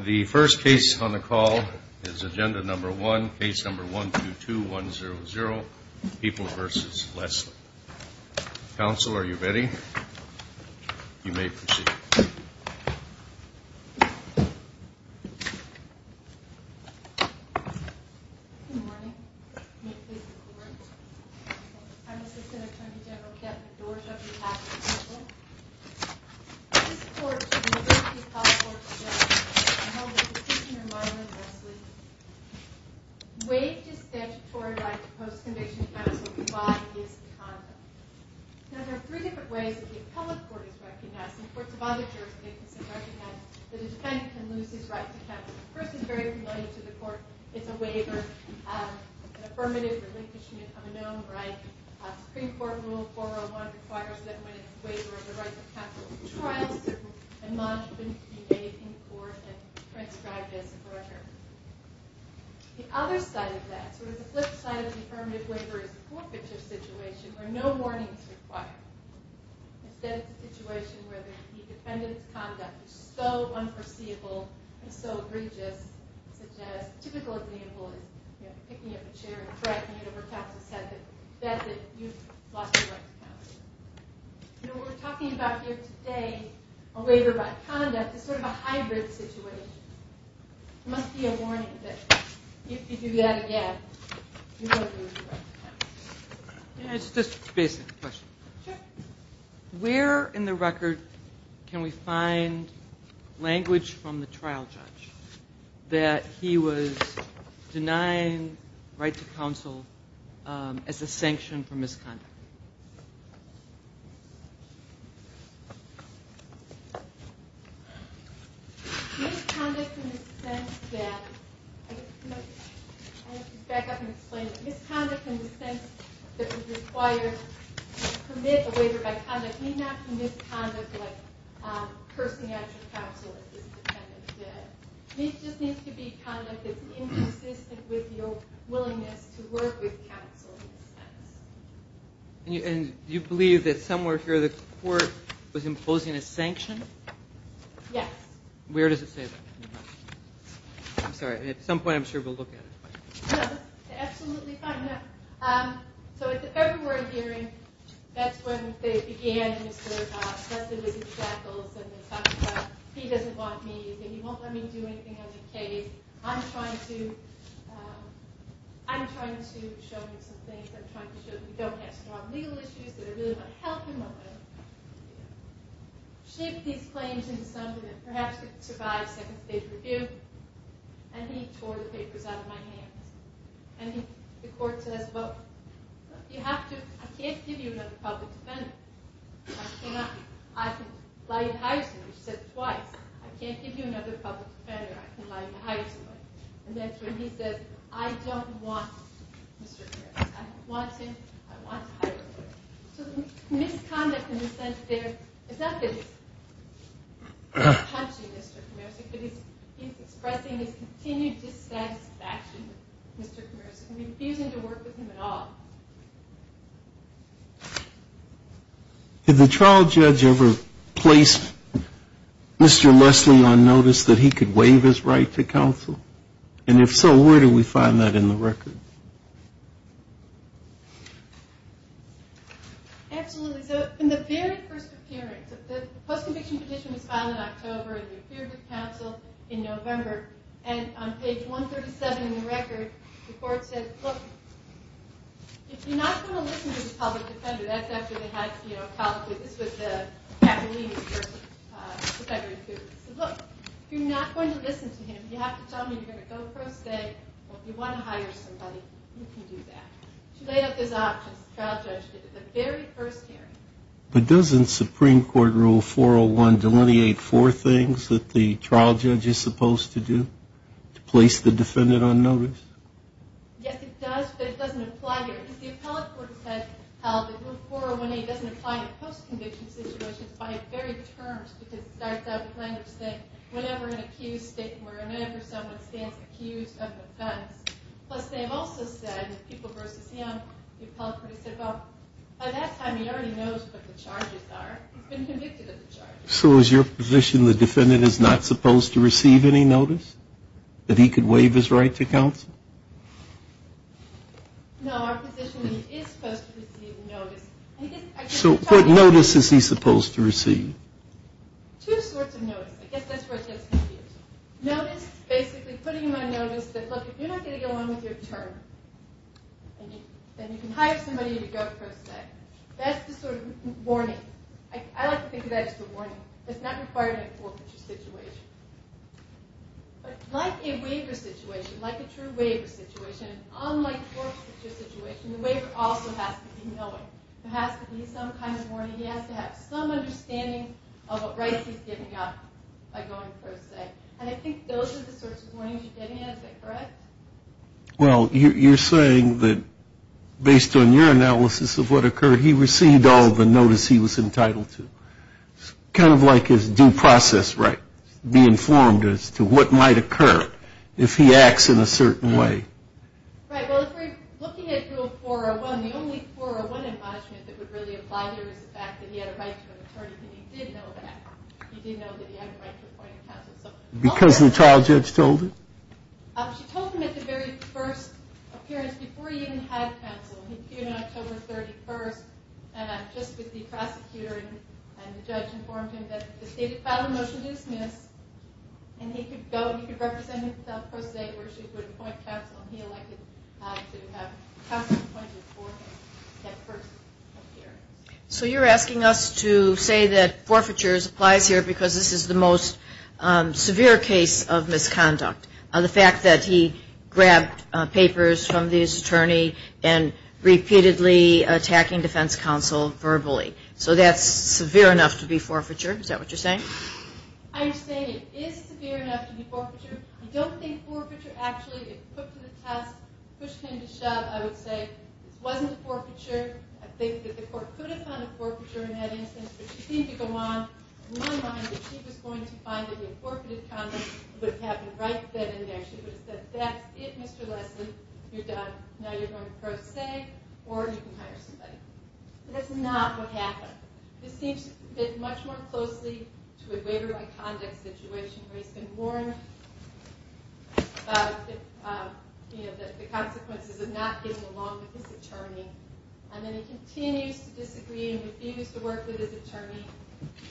The first case on the call is Agenda 1, Case 122-100, People v. Lesley. Counsel, are you ready? You may proceed. Good morning. May it please the Court? I'm Assistant Attorney General Kevin Dorshoff. This Court, the University of Colorado Courts of Justice, has held a petitioner, Marlon Lesley, waived his statutory right to post-conviction counsel while he is in conduct. Now, there are three different ways that the appellate court is recognized. Courts of other jurisdictions recognize that a defendant can lose his right to counsel. The person is very familiar to the Court. It's a waiver, an affirmative relinquishment of a known right. The Supreme Court Rule 401 requires that when it's a waiver, the right to counsel is trial-certified and monitored to be made in court and transcribed as a corrector. The other side of that, sort of the flip side of the affirmative waiver, is a forfeiture situation where no warning is required. Instead, it's a situation where the defendant's conduct is so unforeseeable and so egregious, such as a typical example is picking up a chair and cracking it over top of his head. That's it, you've lost your right to counsel. You know, what we're talking about here today, a waiver by conduct, is sort of a hybrid situation. There must be a warning that if you do that again, you won't lose your right to counsel. Can I ask just a basic question? Sure. Where in the record can we find language from the trial judge that he was denying right to counsel as a sanction for misconduct? Misconduct in the sense that, I have to back up and explain it. Misconduct in the sense that it was required to commit a waiver by conduct but it may not be misconduct like cursing at your counsel if the defendant did. It just needs to be conduct that's inconsistent with your willingness to work with counsel. Do you believe that somewhere here the court was imposing a sanction? Yes. Where does it say that? I'm sorry. At some point I'm sure we'll look at it. Absolutely find out. So at the open word hearing, that's when they began, and it was sort of tested with jackals and they talked about, he doesn't want me, he won't let me do anything on the case, I'm trying to show him some things, I'm trying to show that we don't have strong legal issues that are really going to help him, I'm going to shift these claims into something that perhaps could survive second stage review, and he tore the papers out of my hands. And the court says, well, you have to, I can't give you another public defender. I cannot. I can lie and hire somebody. She said it twice. I can't give you another public defender. I can lie and hire somebody. And that's when he says, I don't want Mr. Kamersky. I don't want him. I want to hire him. So misconduct in the sense there, it's not that he's punching Mr. Kamersky, but he's expressing his continued dissatisfaction with Mr. Kamersky, refusing to work with him at all. Did the trial judge ever place Mr. Leslie on notice that he could waive his right to counsel? And if so, where do we find that in the record? Absolutely. In the very first appearance, the post-conviction petition was filed in October, and he appeared to counsel in November. And on page 137 in the record, the court said, look, if you're not going to listen to the public defender, that's after they had, you know, this was the cap and leading person, the public defender included. He said, look, if you're not going to listen to him, you have to tell me you're going to go for a stay, or if you want to hire somebody, you can do that. She laid out those options. The trial judge did at the very first hearing. But doesn't Supreme Court Rule 401 delineate four things that the trial judge is supposed to do to place the defendant on notice? Yes, it does, but it doesn't apply here, because the appellate court has held that Rule 401A doesn't apply to post-conviction situations by a varied terms, because it starts out with language saying, whenever an accused statement, whenever someone stands accused of offense. Plus, they've also said, people versus him, the appellate court has said, well, by that time he already knows what the charges are. He's been convicted of the charges. So is your position the defendant is not supposed to receive any notice? That he could waive his right to counsel? No, our position is he is supposed to receive notice. So what notice is he supposed to receive? Two sorts of notice. I guess that's where it gets confused. Notice is basically putting him on notice that, look, if you're not going to go on with your term, then you can hire somebody to go pro se. That's the sort of warning. I like to think of that as the warning. It's not required in a forfeiture situation. But like a waiver situation, like a true waiver situation, unlike a forfeiture situation, the waiver also has to be knowing. There has to be some kind of warning. He has to have some understanding of what rights he's giving up by going pro se. And I think those are the sorts of warnings you're getting at. Is that correct? Well, you're saying that based on your analysis of what occurred, he received all the notice he was entitled to. Kind of like his due process, right, being informed as to what might occur if he acts in a certain way. Right. Well, if we're looking at Rule 401, the only 401 admonishment that would really apply here is the fact that he had a right to an attorney. He did know that. He did know that he had a right to appoint a counsel. Because the trial judge told him? She told him at the very first appearance, before he even had counsel. He appeared on October 31st, and just with the prosecutor and the judge informed him that the stated final motion is dismissed, and he could go and he could represent himself pro se where she would appoint counsel. And he elected to have counsel appointed for him at first appearance. So you're asking us to say that forfeiture applies here because this is the most severe case of misconduct. The fact that he grabbed papers from this attorney and repeatedly attacking defense counsel verbally. So that's severe enough to be forfeiture. Is that what you're saying? I'm saying it is severe enough to be forfeiture. I don't think forfeiture actually, if put to the test, pushed him to shove, I would say this wasn't a forfeiture. I think that the court could have found a forfeiture in that instance, but she seemed to go on. In my mind, if she was going to find that he had forfeited conduct, it would have happened right then and there. She would have said, that's it, Mr. Leslie. You're done. Now you're going pro se, or you can hire somebody. But that's not what happened. This seems to fit much more closely to a waiver by conduct situation where he's been warned about the consequences of not getting along with his attorney. And then he continues to disagree and refuse to work with his attorney.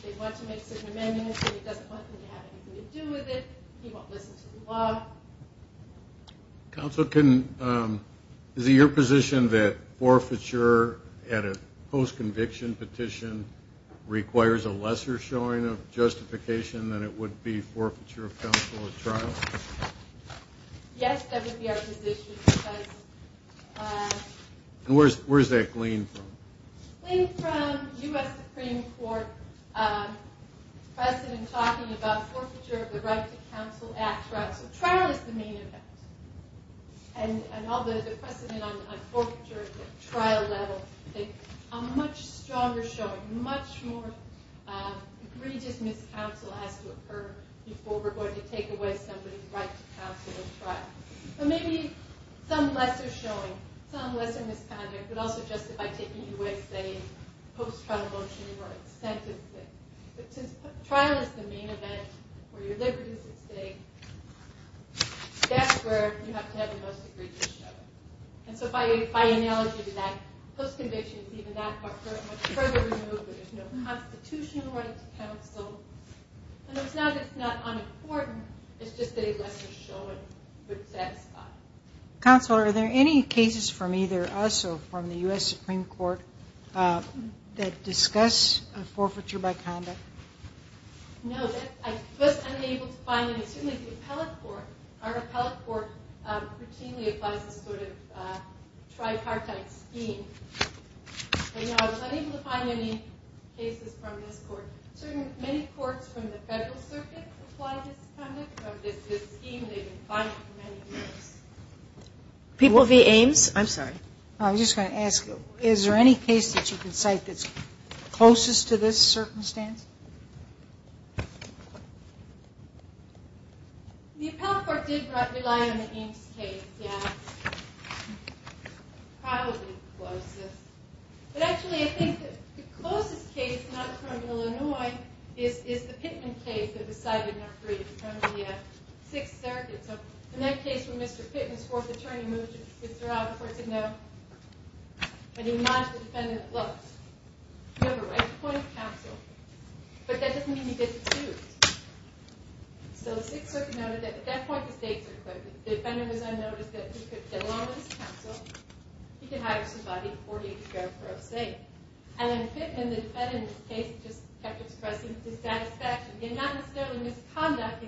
They want to make certain amendments, but he doesn't want them to have anything to do with it. He won't listen to the law. Counsel, is it your position that forfeiture at a post-conviction petition requires a lesser showing of justification than it would be forfeiture of counsel at trial? Yes, that would be our position. Where is that gleaned from? Gleaned from U.S. Supreme Court precedent talking about forfeiture of the Right to Counsel Act. So trial is the main event. And all the precedent on forfeiture at trial level, I think a much stronger showing, much more egregious miscounsel has to occur before we're going to take away somebody's right to counsel at trial. So maybe some lesser showing, some lesser misconduct, but also justified taking away, say, a post-trial motion or a sentence. But since trial is the main event, where your liberty is at stake, that's where you have to have the most egregious showing. And so by analogy to that, post-conviction is even that much further removed where there's no constitutional right to counsel. And it's not that it's not unimportant, it's just that a lesser showing would satisfy. Counsel, are there any cases from either us or from the U.S. Supreme Court that discuss forfeiture by conduct? No, that's unable to find. And certainly the appellate court, our appellate court routinely applies this sort of tripartite scheme. And I was unable to find any cases from this court. Many courts from the Federal Circuit apply this kind of scheme. They've been fined for many years. People via Ames? I'm sorry. I was just going to ask you, is there any case that you can cite that's closest to this circumstance? The appellate court did rely on the Ames case, yes. Probably the closest. But actually I think the closest case, not from Illinois, is the Pittman case that was cited in our brief, from the Sixth Circuit. So in that case where Mr. Pittman's fourth attorney moved his sister out, the court said no. And he lodged a defendant that looked. You have a right to appoint a counsel, but that doesn't mean you get to choose. So the Sixth Circuit noted that at that point the stakes were clear. The defendant was unnoticed, that he could get along with his counsel, he could hire somebody 40 years ago for a state. And then Pittman, the defendant in this case, just kept expressing dissatisfaction, and not necessarily misconduct,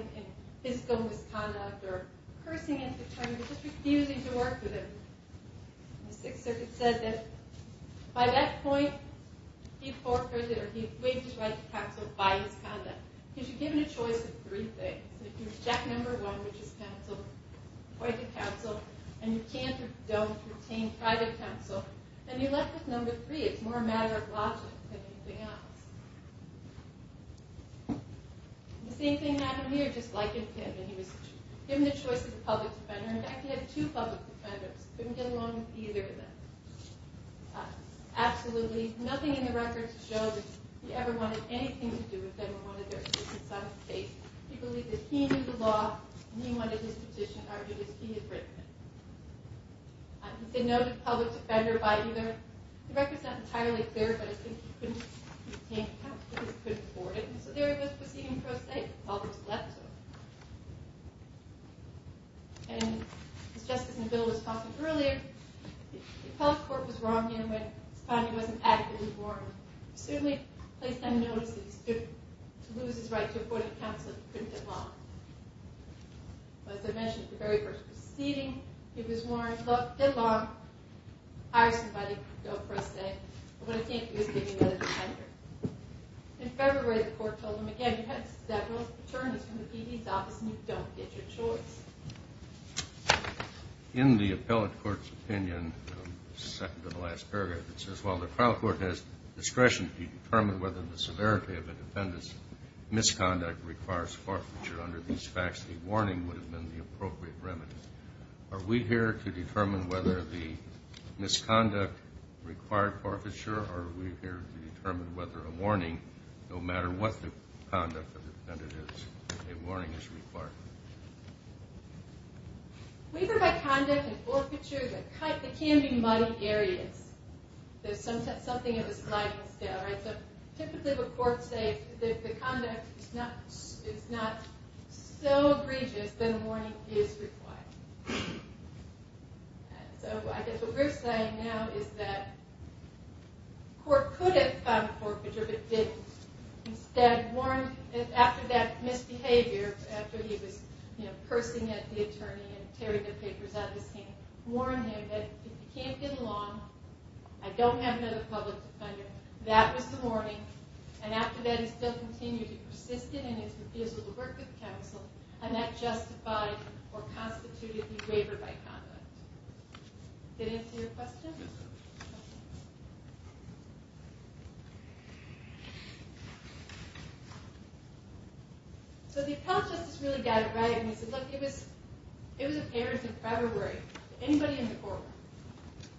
physical misconduct, or cursing at the attorney, just refusing to work with him. The Sixth Circuit said that by that point he forfeited, or he waived his right to counsel by his conduct. Because you're given a choice of three things. If you reject number one, which is counsel, appoint a counsel, and you can't or don't retain private counsel, then you're left with number three. It's more a matter of logic than anything else. The same thing happened here, just like in Pittman. He was given the choice of a public defender. In fact, he had two public defenders. He couldn't get along with either of them. Absolutely nothing in the records showed that he ever wanted anything to do with them or wanted their assistance on a case. He believed that he knew the law, and he wanted his petition argued as he had written it. He's a noted public defender by either. The record's not entirely clear, but I think he couldn't retain counsel because he couldn't afford it. And so there he was proceeding pro se, almost left him. And just as Neville was talking earlier, the appellate court was wrong, in a way. It found he wasn't adequately warned. It certainly placed him in a position to lose his right to afforded counsel if he couldn't get along. But as I mentioned at the very first proceeding, he was warned, get along, hire somebody, go pro se. But I think he was given another defender. In February, the court told him again, you had several attorneys from the PD and you don't get your choice. In the appellate court's opinion, second to the last paragraph, it says, while the trial court has discretion to determine whether the severity of a defendant's misconduct requires forfeiture under these facts, a warning would have been the appropriate remedy. Are we here to determine whether the misconduct required forfeiture, or are we here to determine whether a warning, no matter what the conduct of the defendant is, a warning is required? Weaver by conduct and forfeiture, they can be muddy areas. There's something of a sliding scale, right? So typically the court says the conduct is not so egregious that a warning is required. So I guess what we're saying now is that the court could have found forfeiture, but didn't. Instead, after that misbehavior, after he was cursing at the attorney and tearing the papers out of his hand, warned him that if he can't get along, I don't have another public defender, that was the warning, and after that he still continued to persist in his refusal to work with counsel, and that justified or constituted the waiver by conduct. Did that answer your question? So the appellate justice really got it right, and he said, look, it was appearance in February. Anybody in the courtroom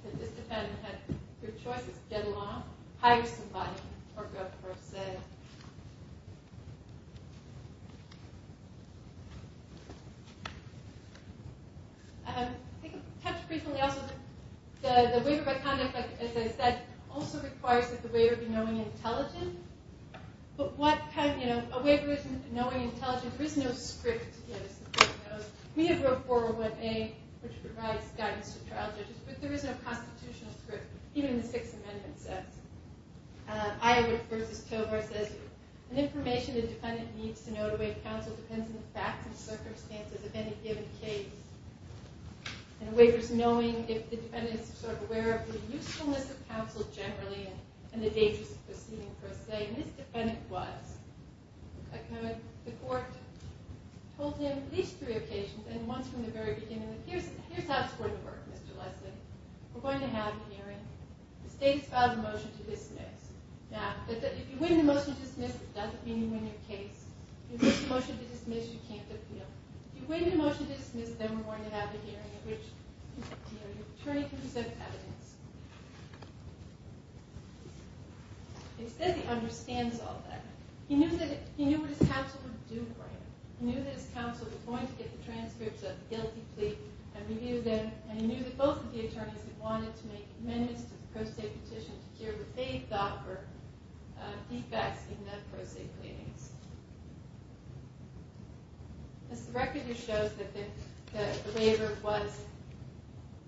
that this defendant had good choices, get along, hire somebody, or go for a say. I think I touched frequently also that the waiver by conduct, as I said, also requires that the waiver be knowing and intelligent, but what kind of, you know, a waiver isn't knowing and intelligent. There is no script to give, as the court knows. We have wrote 401A, which provides guidance to trial judges, but there is no constitutional script, even the Sixth Amendment says. Iowa versus Tovar says, an information the defendant needs to know to waive counsel depends on the facts and circumstances of any given case. And a waiver's knowing if the defendant is sort of aware of the usefulness of counsel generally and the dangers of proceeding for a say. And this defendant was. The court told him at least three occasions, and once from the very beginning, here's how it's going to work, Mr. Leslie. We're going to have a hearing. The state's filed a motion to dismiss. Now, if you win the motion to dismiss, it doesn't mean you win your case. If you win the motion to dismiss, you can't appeal. If you win the motion to dismiss, then we're going to have a hearing at which your attorney can present evidence. He said he understands all that. He knew what his counsel would do for him. He knew that his counsel was going to get the transcripts of the guilty plea and review them, and he knew that both of the attorneys had wanted to make amendments to the pro se petition to hear what they thought were defects in the pro se pleadings. This record just shows that the waiver was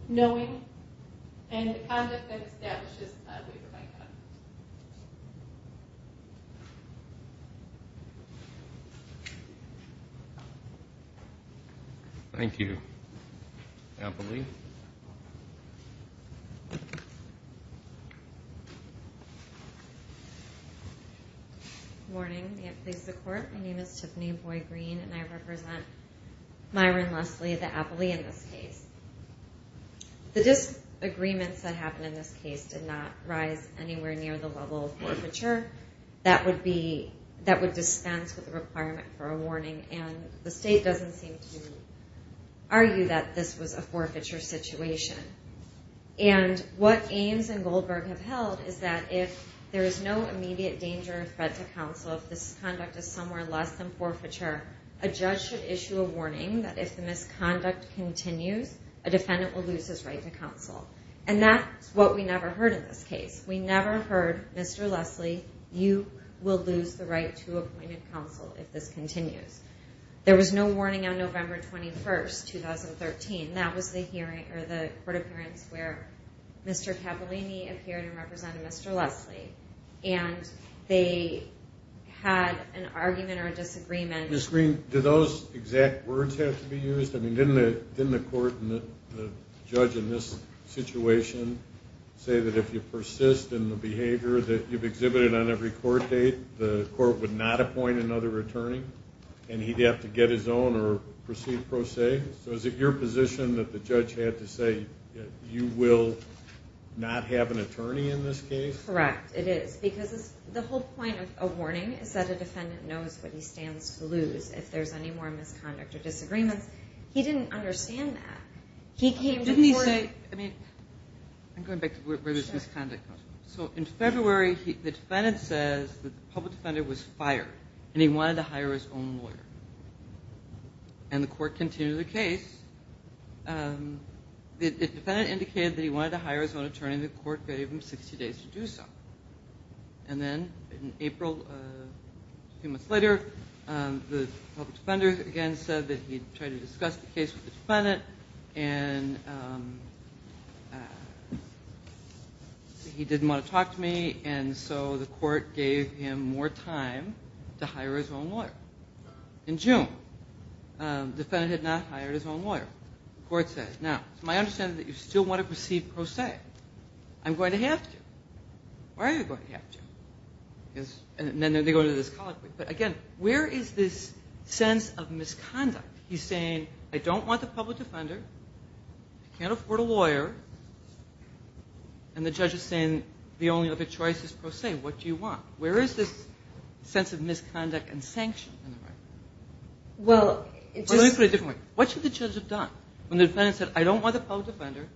knowing and the conduct that establishes a waiver might not. Thank you. Appley. Good morning. May it please the Court. My name is Tiffany Boyd-Green, and I represent Myron Leslie, the Appley, in this case. The disagreements that happened in this case did not rise anywhere near the level of forfeiture that would dispense with the requirement for a warning, and the State doesn't seem to argue that this was a forfeiture situation. And what Ames and Goldberg have held is that if there is no immediate danger or threat to counsel, if this conduct is somewhere less than forfeiture, a judge should issue a warning that if the misconduct continues, a defendant will lose his right to counsel. And that's what we never heard in this case. We never heard, Mr. Leslie, you will lose the right to appointed counsel if this continues. There was no warning on November 21, 2013. That was the court appearance where Mr. Cavallini appeared and represented Mr. Leslie, and they had an argument or a disagreement. Ms. Green, do those exact words have to be used? Didn't the court and the judge in this situation say that if you persist in the behavior that you've exhibited on every court date, the court would not appoint another attorney and he'd have to get his own or proceed pro se? So is it your position that the judge had to say you will not have an attorney in this case? Correct, it is. Because the whole point of a warning is that a defendant knows what he stands to lose. If there's any more misconduct or disagreements, he didn't understand that. Didn't he say, I mean, I'm going back to where this misconduct comes from. So in February, the defendant says the public defender was fired and he wanted to hire his own lawyer. And the court continued the case. The defendant indicated that he wanted to hire his own attorney. The court gave him 60 days to do so. And then in April, a few months later, the public defender again said that he'd tried to discuss the case with the defendant and he didn't want to talk to me and so the court gave him more time to hire his own lawyer. In June, the defendant had not hired his own lawyer. The court said, now, it's my understanding that you still want to proceed pro se. I'm going to have to. Why are you going to have to? And then they go into this conflict. But again, where is this sense of misconduct? He's saying, I don't want the public defender. I can't afford a lawyer. And the judge is saying, the only other choice is pro se. What do you want? Where is this sense of misconduct and sanction? Let me put it a different way. What should the judge have done when the defendant said, I don't want the public defender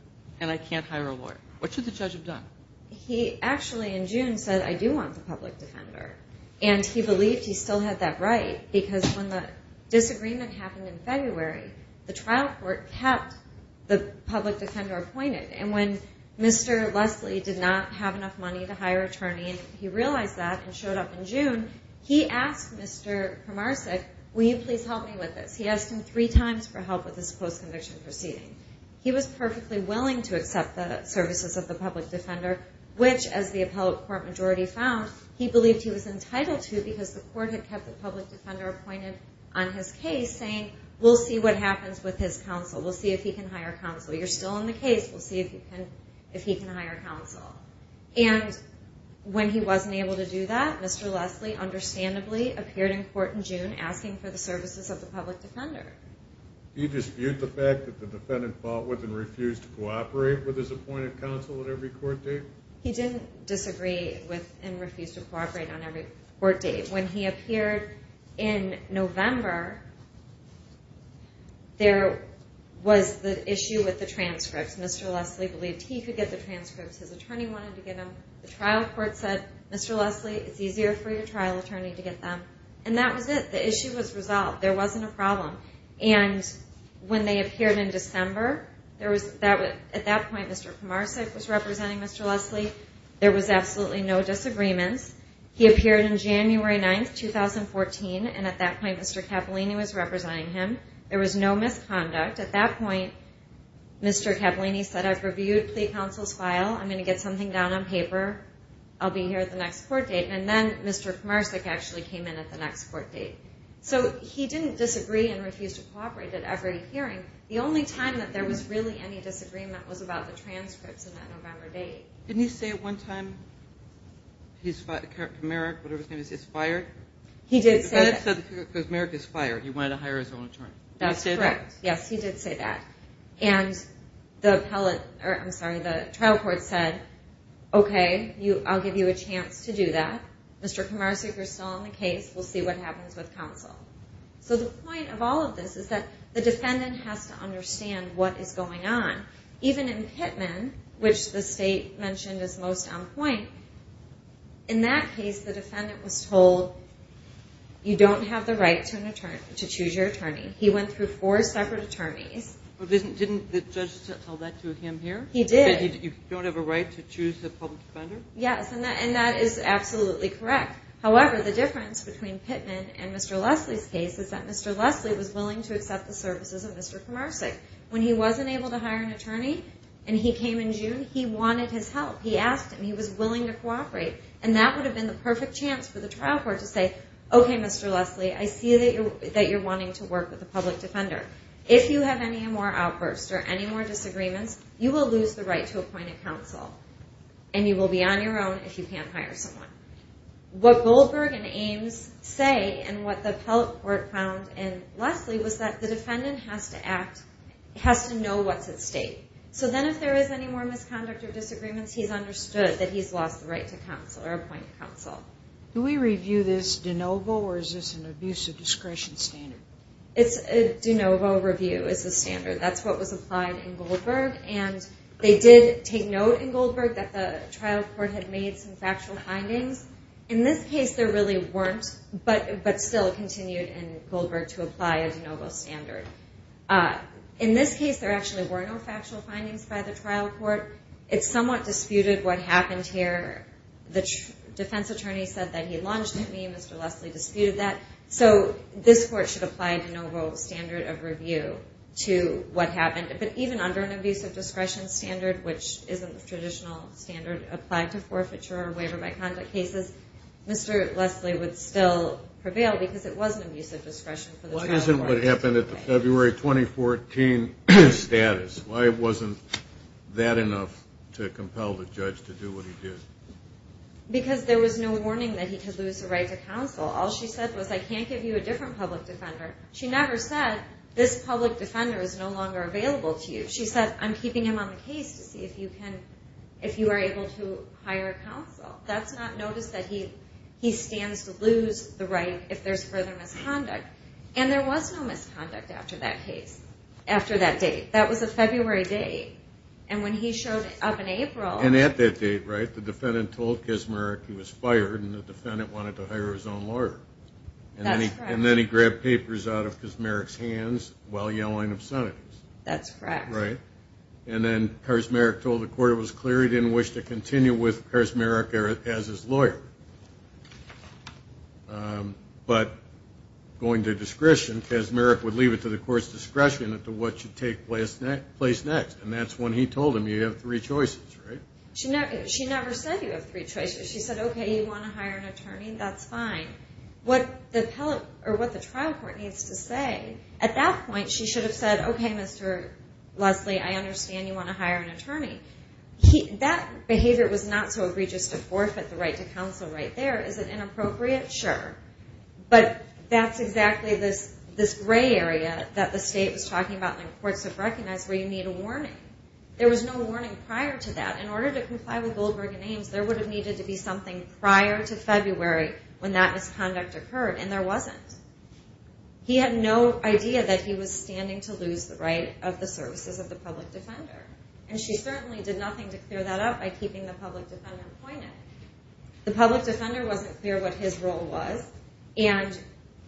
and I can't hire a lawyer? What should the judge have done? He actually, in June, said, I do want the public defender. And he believed he still had that right because when the disagreement happened in February, the trial court kept the public defender appointed. And when Mr. Leslie did not have enough money to hire an attorney, he realized that and showed up in June. He asked Mr. Primarsek, will you please help me with this? He asked him three times for help with this post-conviction proceeding. He was perfectly willing to accept the services of the public defender, which, as the appellate court majority found, he believed he was entitled to because the court had kept the public defender appointed on his case saying, we'll see what happens with his counsel. We'll see if he can hire counsel. You're still in the case. We'll see if he can hire counsel. And when he wasn't able to do that, Mr. Leslie understandably appeared in court in June asking for the services of the public defender. He disputed the fact that the defendant fought with and refused to cooperate with his appointed counsel at every court date? He didn't disagree with and refuse to cooperate on every court date. When he appeared in November, there was the issue with the transcripts. Mr. Leslie believed he could get the transcripts. His attorney wanted to get them. The trial court said, Mr. Leslie, it's easier for your trial attorney to get them. And that was it. The issue was resolved. There wasn't a problem. And when they appeared in December, at that point Mr. Komarsik was representing Mr. Leslie. There was absolutely no disagreements. He appeared on January 9, 2014, and at that point Mr. Cappellini was representing him. There was no misconduct. At that point, Mr. Cappellini said, I've reviewed plea counsel's file. I'm going to get something down on paper. I'll be here at the next court date. And then Mr. Komarsik actually came in at the next court date. So he didn't disagree and refuse to cooperate at every hearing. The only time that there was really any disagreement was about the transcripts in that November date. Didn't he say at one time, Merrick, whatever his name is, is fired? He did say that. Merrick is fired. He wanted to hire his own attorney. That's correct. Yes, he did say that. And the trial court said, okay, I'll give you a chance to do that. Mr. Komarsik is still on the case. We'll see what happens with counsel. So the point of all of this is that the defendant has to understand what is going on. Even in Pittman, which the state mentioned is most on point, in that case the defendant was told you don't have the right to choose your attorney. He went through four separate attorneys. But didn't the judge tell that to him here? He did. That you don't have a right to choose the public defender? Yes, and that is absolutely correct. However, the difference between Pittman and Mr. Leslie's case is that Mr. Leslie was willing to accept the services of Mr. Komarsik. When he wasn't able to hire an attorney and he came in June, he wanted his help. He asked him. He was willing to cooperate. And that would have been the perfect chance for the trial court to say, okay, Mr. Leslie, I see that you're wanting to work with the public defender. If you have any more outbursts or any more disagreements, you will lose the right to appoint a counsel. And you will be on your own if you can't hire someone. What Goldberg and Ames say and what the appellate court found in Leslie was that the defendant has to know what's at stake. So then if there is any more misconduct or disagreements, he's understood that he's lost the right to counsel or appoint counsel. Do we review this de novo or is this an abuse of discretion standard? It's a de novo review is the standard. That's what was applied in Goldberg. And they did take note in Goldberg that the trial court had made some factual findings. In this case, there really weren't, but still it continued in Goldberg to apply a de novo standard. In this case, there actually were no factual findings by the trial court. It somewhat disputed what happened here. The defense attorney said that he lunged at me and Mr. Leslie disputed that. So this court should apply a de novo standard of review to what happened. But even under an abuse of discretion standard, which isn't the traditional standard applied to forfeiture or waiver by conduct cases, Mr. Leslie would still prevail because it was an abuse of discretion for the trial court. Why isn't what happened at the February 2014 status? Why wasn't that enough to compel the judge to do what he did? Because there was no warning that he could lose the right to counsel. All she said was, I can't give you a different public defender. She never said, this public defender is no longer available to you. She said, I'm keeping him on the case to see if you are able to hire counsel. That's not notice that he stands to lose the right if there's further misconduct. And there was no misconduct after that case, after that date. That was a February date. And when he showed up in April. And at that date, right, the defendant told Kaczmarek he was fired and the defendant wanted to hire his own lawyer. And then he grabbed papers out of Kaczmarek's hands while yelling obscenities. That's correct. And then Kaczmarek told the court it was clear he didn't wish to continue with Kaczmarek as his lawyer. But going to discretion, Kaczmarek would leave it to the court's discretion as to what should take place next. And that's when he told him, you have three choices, right? She never said you have three choices. She said, okay, you want to hire an attorney? That's fine. What the trial court needs to say, at that point she should have said, okay, Mr. Leslie, I understand you want to hire an attorney. That behavior was not so egregious to forfeit the right to counsel right there. Is it inappropriate? Sure. But that's exactly this gray area that the state was talking about and courts have recognized where you need a warning. There was no warning prior to that. In order to comply with Goldberg and Ames, there would have needed to be something prior to February when that misconduct occurred, and there wasn't. He had no idea that he was standing to lose the right of the services of the public defender. And she certainly did nothing to clear that up by keeping the public defender appointed. The public defender wasn't clear what his role was, and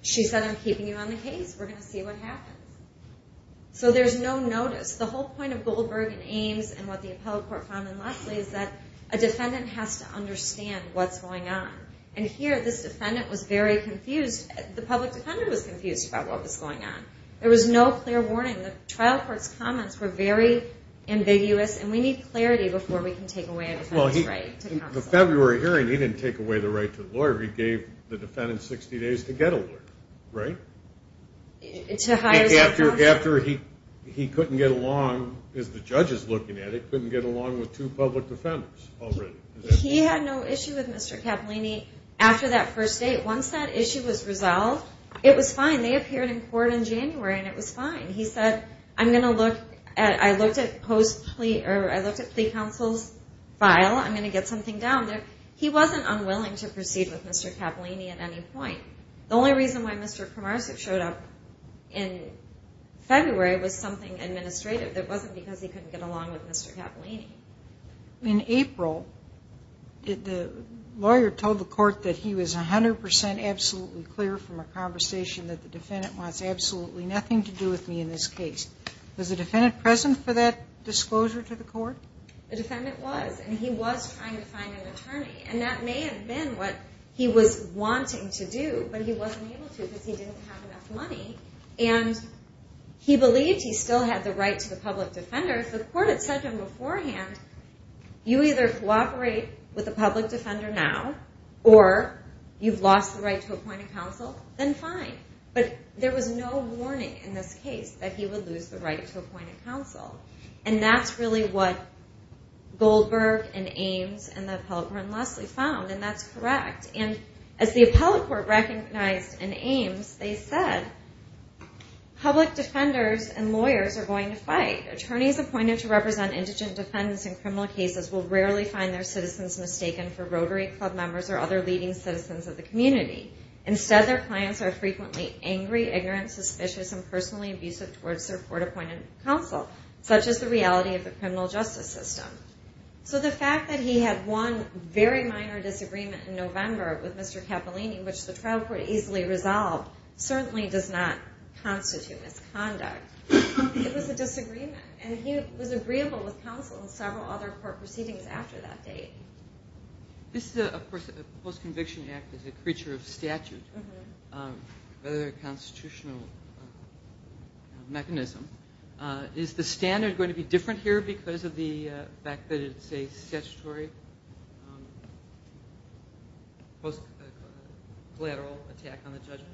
she said, I'm keeping you on the case. We're going to see what happens. So there's no notice. The whole point of Goldberg and Ames and what the appellate court found in Leslie is that a defendant has to understand what's going on. And here this defendant was very confused. The public defender was confused about what was going on. There was no clear warning. The trial court's comments were very ambiguous, and we need clarity before we can take away a defendant's right to counsel. In the February hearing, he didn't take away the right to the lawyer. He gave the defendant 60 days to get a lawyer, right? After he couldn't get along, as the judge is looking at it, couldn't get along with two public defenders already. He had no issue with Mr. Cappellini after that first date. Once that issue was resolved, it was fine. They appeared in court in January, and it was fine. He said, I'm going to look. I looked at plea counsel's file. I'm going to get something down there. He wasn't unwilling to proceed with Mr. Cappellini at any point. The only reason why Mr. Kumarsic showed up in February was something administrative. It wasn't because he couldn't get along with Mr. Cappellini. In April, the lawyer told the court that he was 100% absolutely clear from a conversation that the defendant wants absolutely nothing to do with me in this case. Was the defendant present for that disclosure to the court? The defendant was, and he was trying to find an attorney. That may have been what he was wanting to do, but he wasn't able to because he didn't have enough money. He believed he still had the right to the public defender. If the court had said to him beforehand, you either cooperate with the public defender now, or you've lost the right to appoint a counsel, then fine. But there was no warning in this case that he would lose the right to appoint a counsel. That's really what Goldberg and Ames and the appellate court in Leslie found, and that's correct. As the appellate court recognized in Ames, they said, public defenders and lawyers are going to fight. Attorneys appointed to represent indigent defendants in criminal cases will rarely find their citizens mistaken for Rotary Club members or other leading citizens of the community. Instead, their clients are frequently angry, ignorant, suspicious, and personally abusive towards their court-appointed counsel, such is the reality of the criminal justice system. So the fact that he had one very minor disagreement in November with Mr. Cappellini, which the trial court easily resolved, certainly does not constitute misconduct. It was a disagreement, and he was agreeable with counsel in several other court proceedings after that date. This is, of course, a post-conviction act is a creature of statute. It's a constitutional mechanism. Is the standard going to be different here because of the fact that it's a statutory post-collateral attack on the judgment?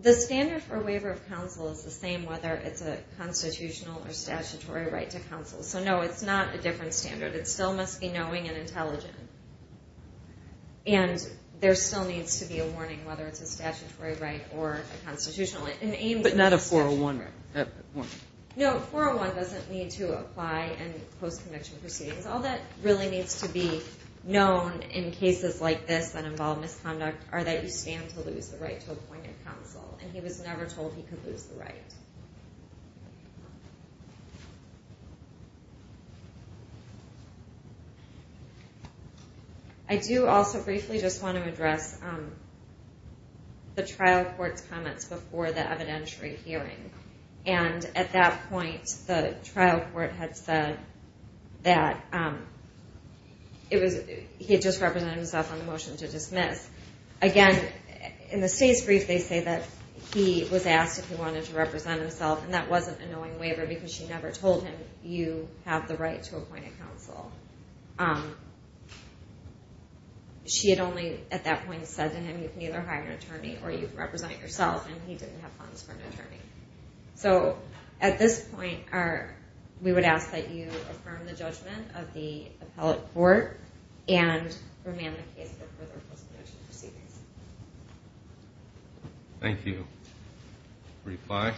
The standard for waiver of counsel is the same whether it's a constitutional or statutory right to counsel. So, no, it's not a different standard. It still must be knowing and intelligent, and there still needs to be a warning whether it's a statutory right or a constitutional right. But not a 401. No, a 401 doesn't need to apply in post-conviction proceedings. All that really needs to be known in cases like this that involve misconduct are that you stand to lose the right to appointed counsel, and he was never told he could lose the right. I do also briefly just want to address the trial court's comments before the evidentiary hearing. At that point, the trial court had said that he had just represented himself on the motion to dismiss. Again, in the state's brief, they say that he was asked if he wanted to represent himself, and that wasn't a knowing waiver because she never told him you have the right to appointed counsel. She had only at that point said to him, you can either hire an attorney or you can represent yourself, and he didn't have funds for an attorney. So at this point, we would ask that you affirm the judgment of the appellate court and remand the case for further post-conviction proceedings. Thank you. Reply.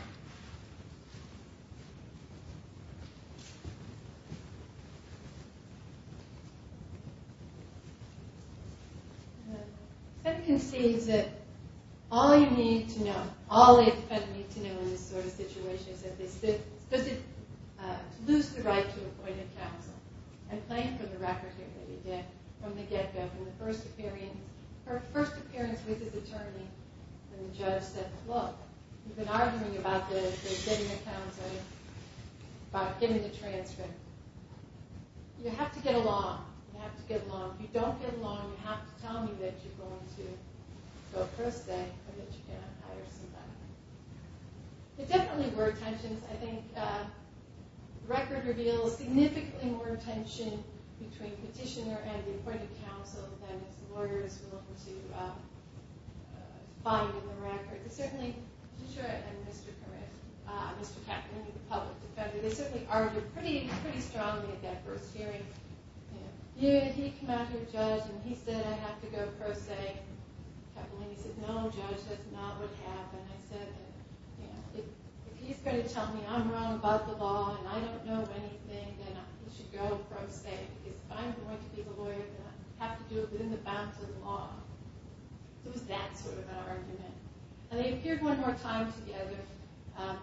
It concedes that all you need to know, all the defendants need to know in this sort of situation, is does he lose the right to appointed counsel? I'm playing for the record here that he did from the get-go. In the first appearance with his attorney, the judge said, look, you've been arguing about getting a counsel, about getting a transcript. You have to get along. You have to get along. If you don't get along, you have to tell me that you're going to go first and that you cannot hire somebody. There definitely were tensions. I think the record reveals significantly more tension between petitioner and the appointed counsel than the lawyer is willing to find in the record. Certainly, Petitioner and Mr. Capolini, the public defender, they certainly argued pretty strongly at that first hearing. He came out to the judge and he said, I have to go pro se. Capolini said, no, judge, that's not what happened. I said, if he's going to tell me I'm wrong about the law and I don't know anything, then he should go pro se. If I'm going to be the lawyer, then I have to do it within the bounds of the law. It was that sort of argument. And they appeared one more time together,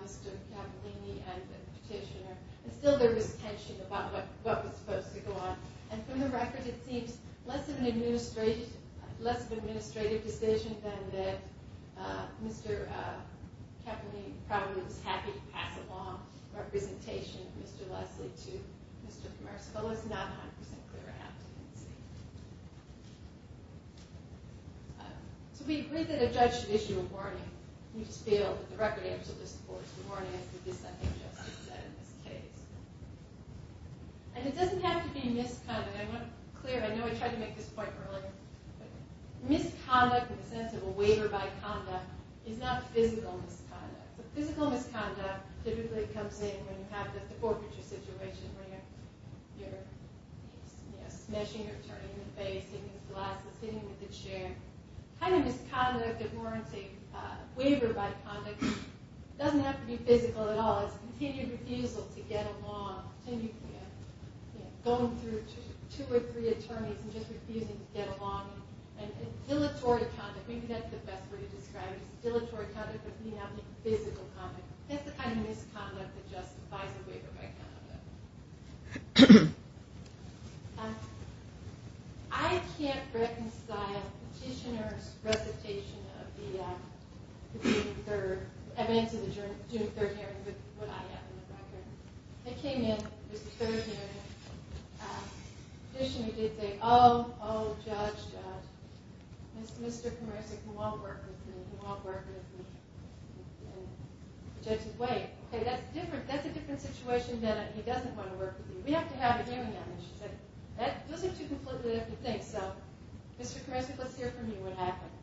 Mr. Capolini and the petitioner, and still there was tension about what was supposed to go on. And from the record, it seems less of an administrative decision than that Mr. Capolini probably was happy to pass along representation of Mr. Leslie to Mr. Commersico. It's not 100% clear what happened. So we agree that a judge should issue a warning. We just feel that the record absolutely supports the warning. This, I think, just is said in this case. And it doesn't have to be misconduct. I want to be clear. I know I tried to make this point earlier. But misconduct in the sense of a waiver by conduct is not physical misconduct. Physical misconduct typically comes in when you have this forfeiture situation where you're smashing your attorney in the face, hitting him with a glass, hitting him with a chair. Kind of misconduct of warranting a waiver by conduct doesn't have to be physical at all. It's a continued refusal to get along, going through two or three attorneys and just refusing to get along. And dilatory conduct, maybe that's the best way to describe it, is dilatory conduct but not physical conduct. That's the kind of misconduct that justifies a waiver by conduct. I can't reconcile Petitioner's recitation of the June 3rd, evidence of the June 3rd hearing with what I have in the record. It came in, this third hearing. Petitioner did say, oh, oh, Judge, Mr. Kramersik won't work with me. He won't work with me. And the judge said, wait. Okay, that's a different situation then. He doesn't want to work with you. We have to have a hearing on this. She said, those are two completely different things. So, Mr. Kramersik, let's hear from you what happened.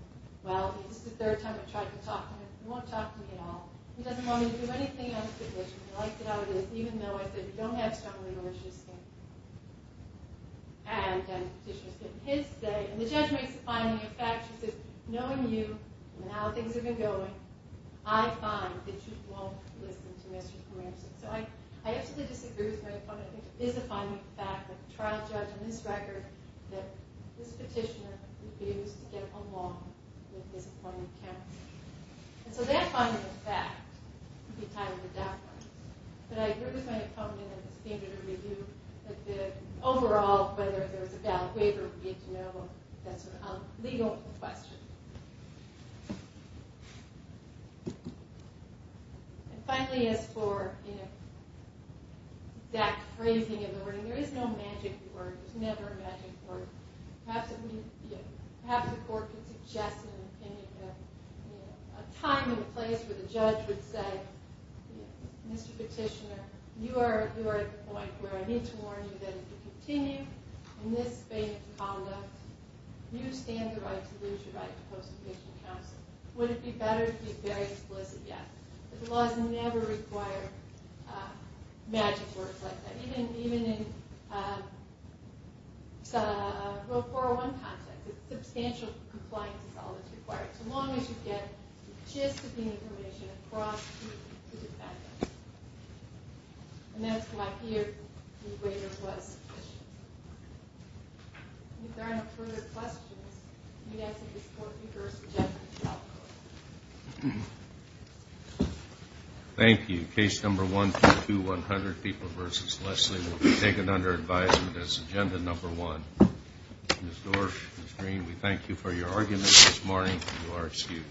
Well, this is the third time I've tried to talk to him. He won't talk to me at all. He doesn't want me to do anything on the petition. He likes it how it is, even though I said we don't have strong legal issues here. And then Petitioner's getting his say. And the judge makes a finding of fact. She says, knowing you and how things have been going, I find that you won't listen to Mr. Kramersik. So, I absolutely disagree with my opponent. I think it is a finding of fact that the trial judge in this record, that this petitioner refused to get along with this appointment of counsel. And so, that finding of fact could be titled a deference. But I agree with my opponent, and it's a danger to review. Overall, whether there's a valid waiver, we need to know. That's a legal question. And finally, as for exact phrasing of the wording, there is no magic word. There's never a magic word. Perhaps the court could suggest a time and a place where the judge would say, Mr. Petitioner, you are at the point where I need to warn you that if you continue in this vein of conduct, you stand the right to lose your right to post-conviction counsel. Would it be better to be very explicit? Yes. But the laws never require magic words like that, even in a 401 context. Substantial compliance is always required. As long as you get the gist of the information across to the defendant. And that's why here the waiver was sufficient. If there are no further questions, we'd ask that this court reverse the judgment of the trial court. Thank you. Case number 122100, People v. Leslie, will be taken under advisement as agenda number one. Ms. Dorsch, Ms. Green, we thank you for your argument this morning. You are excused.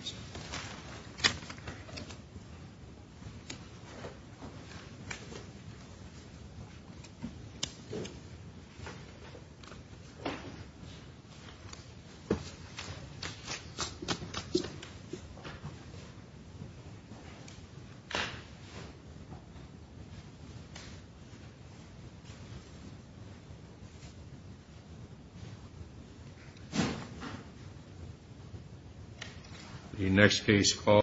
The next case called...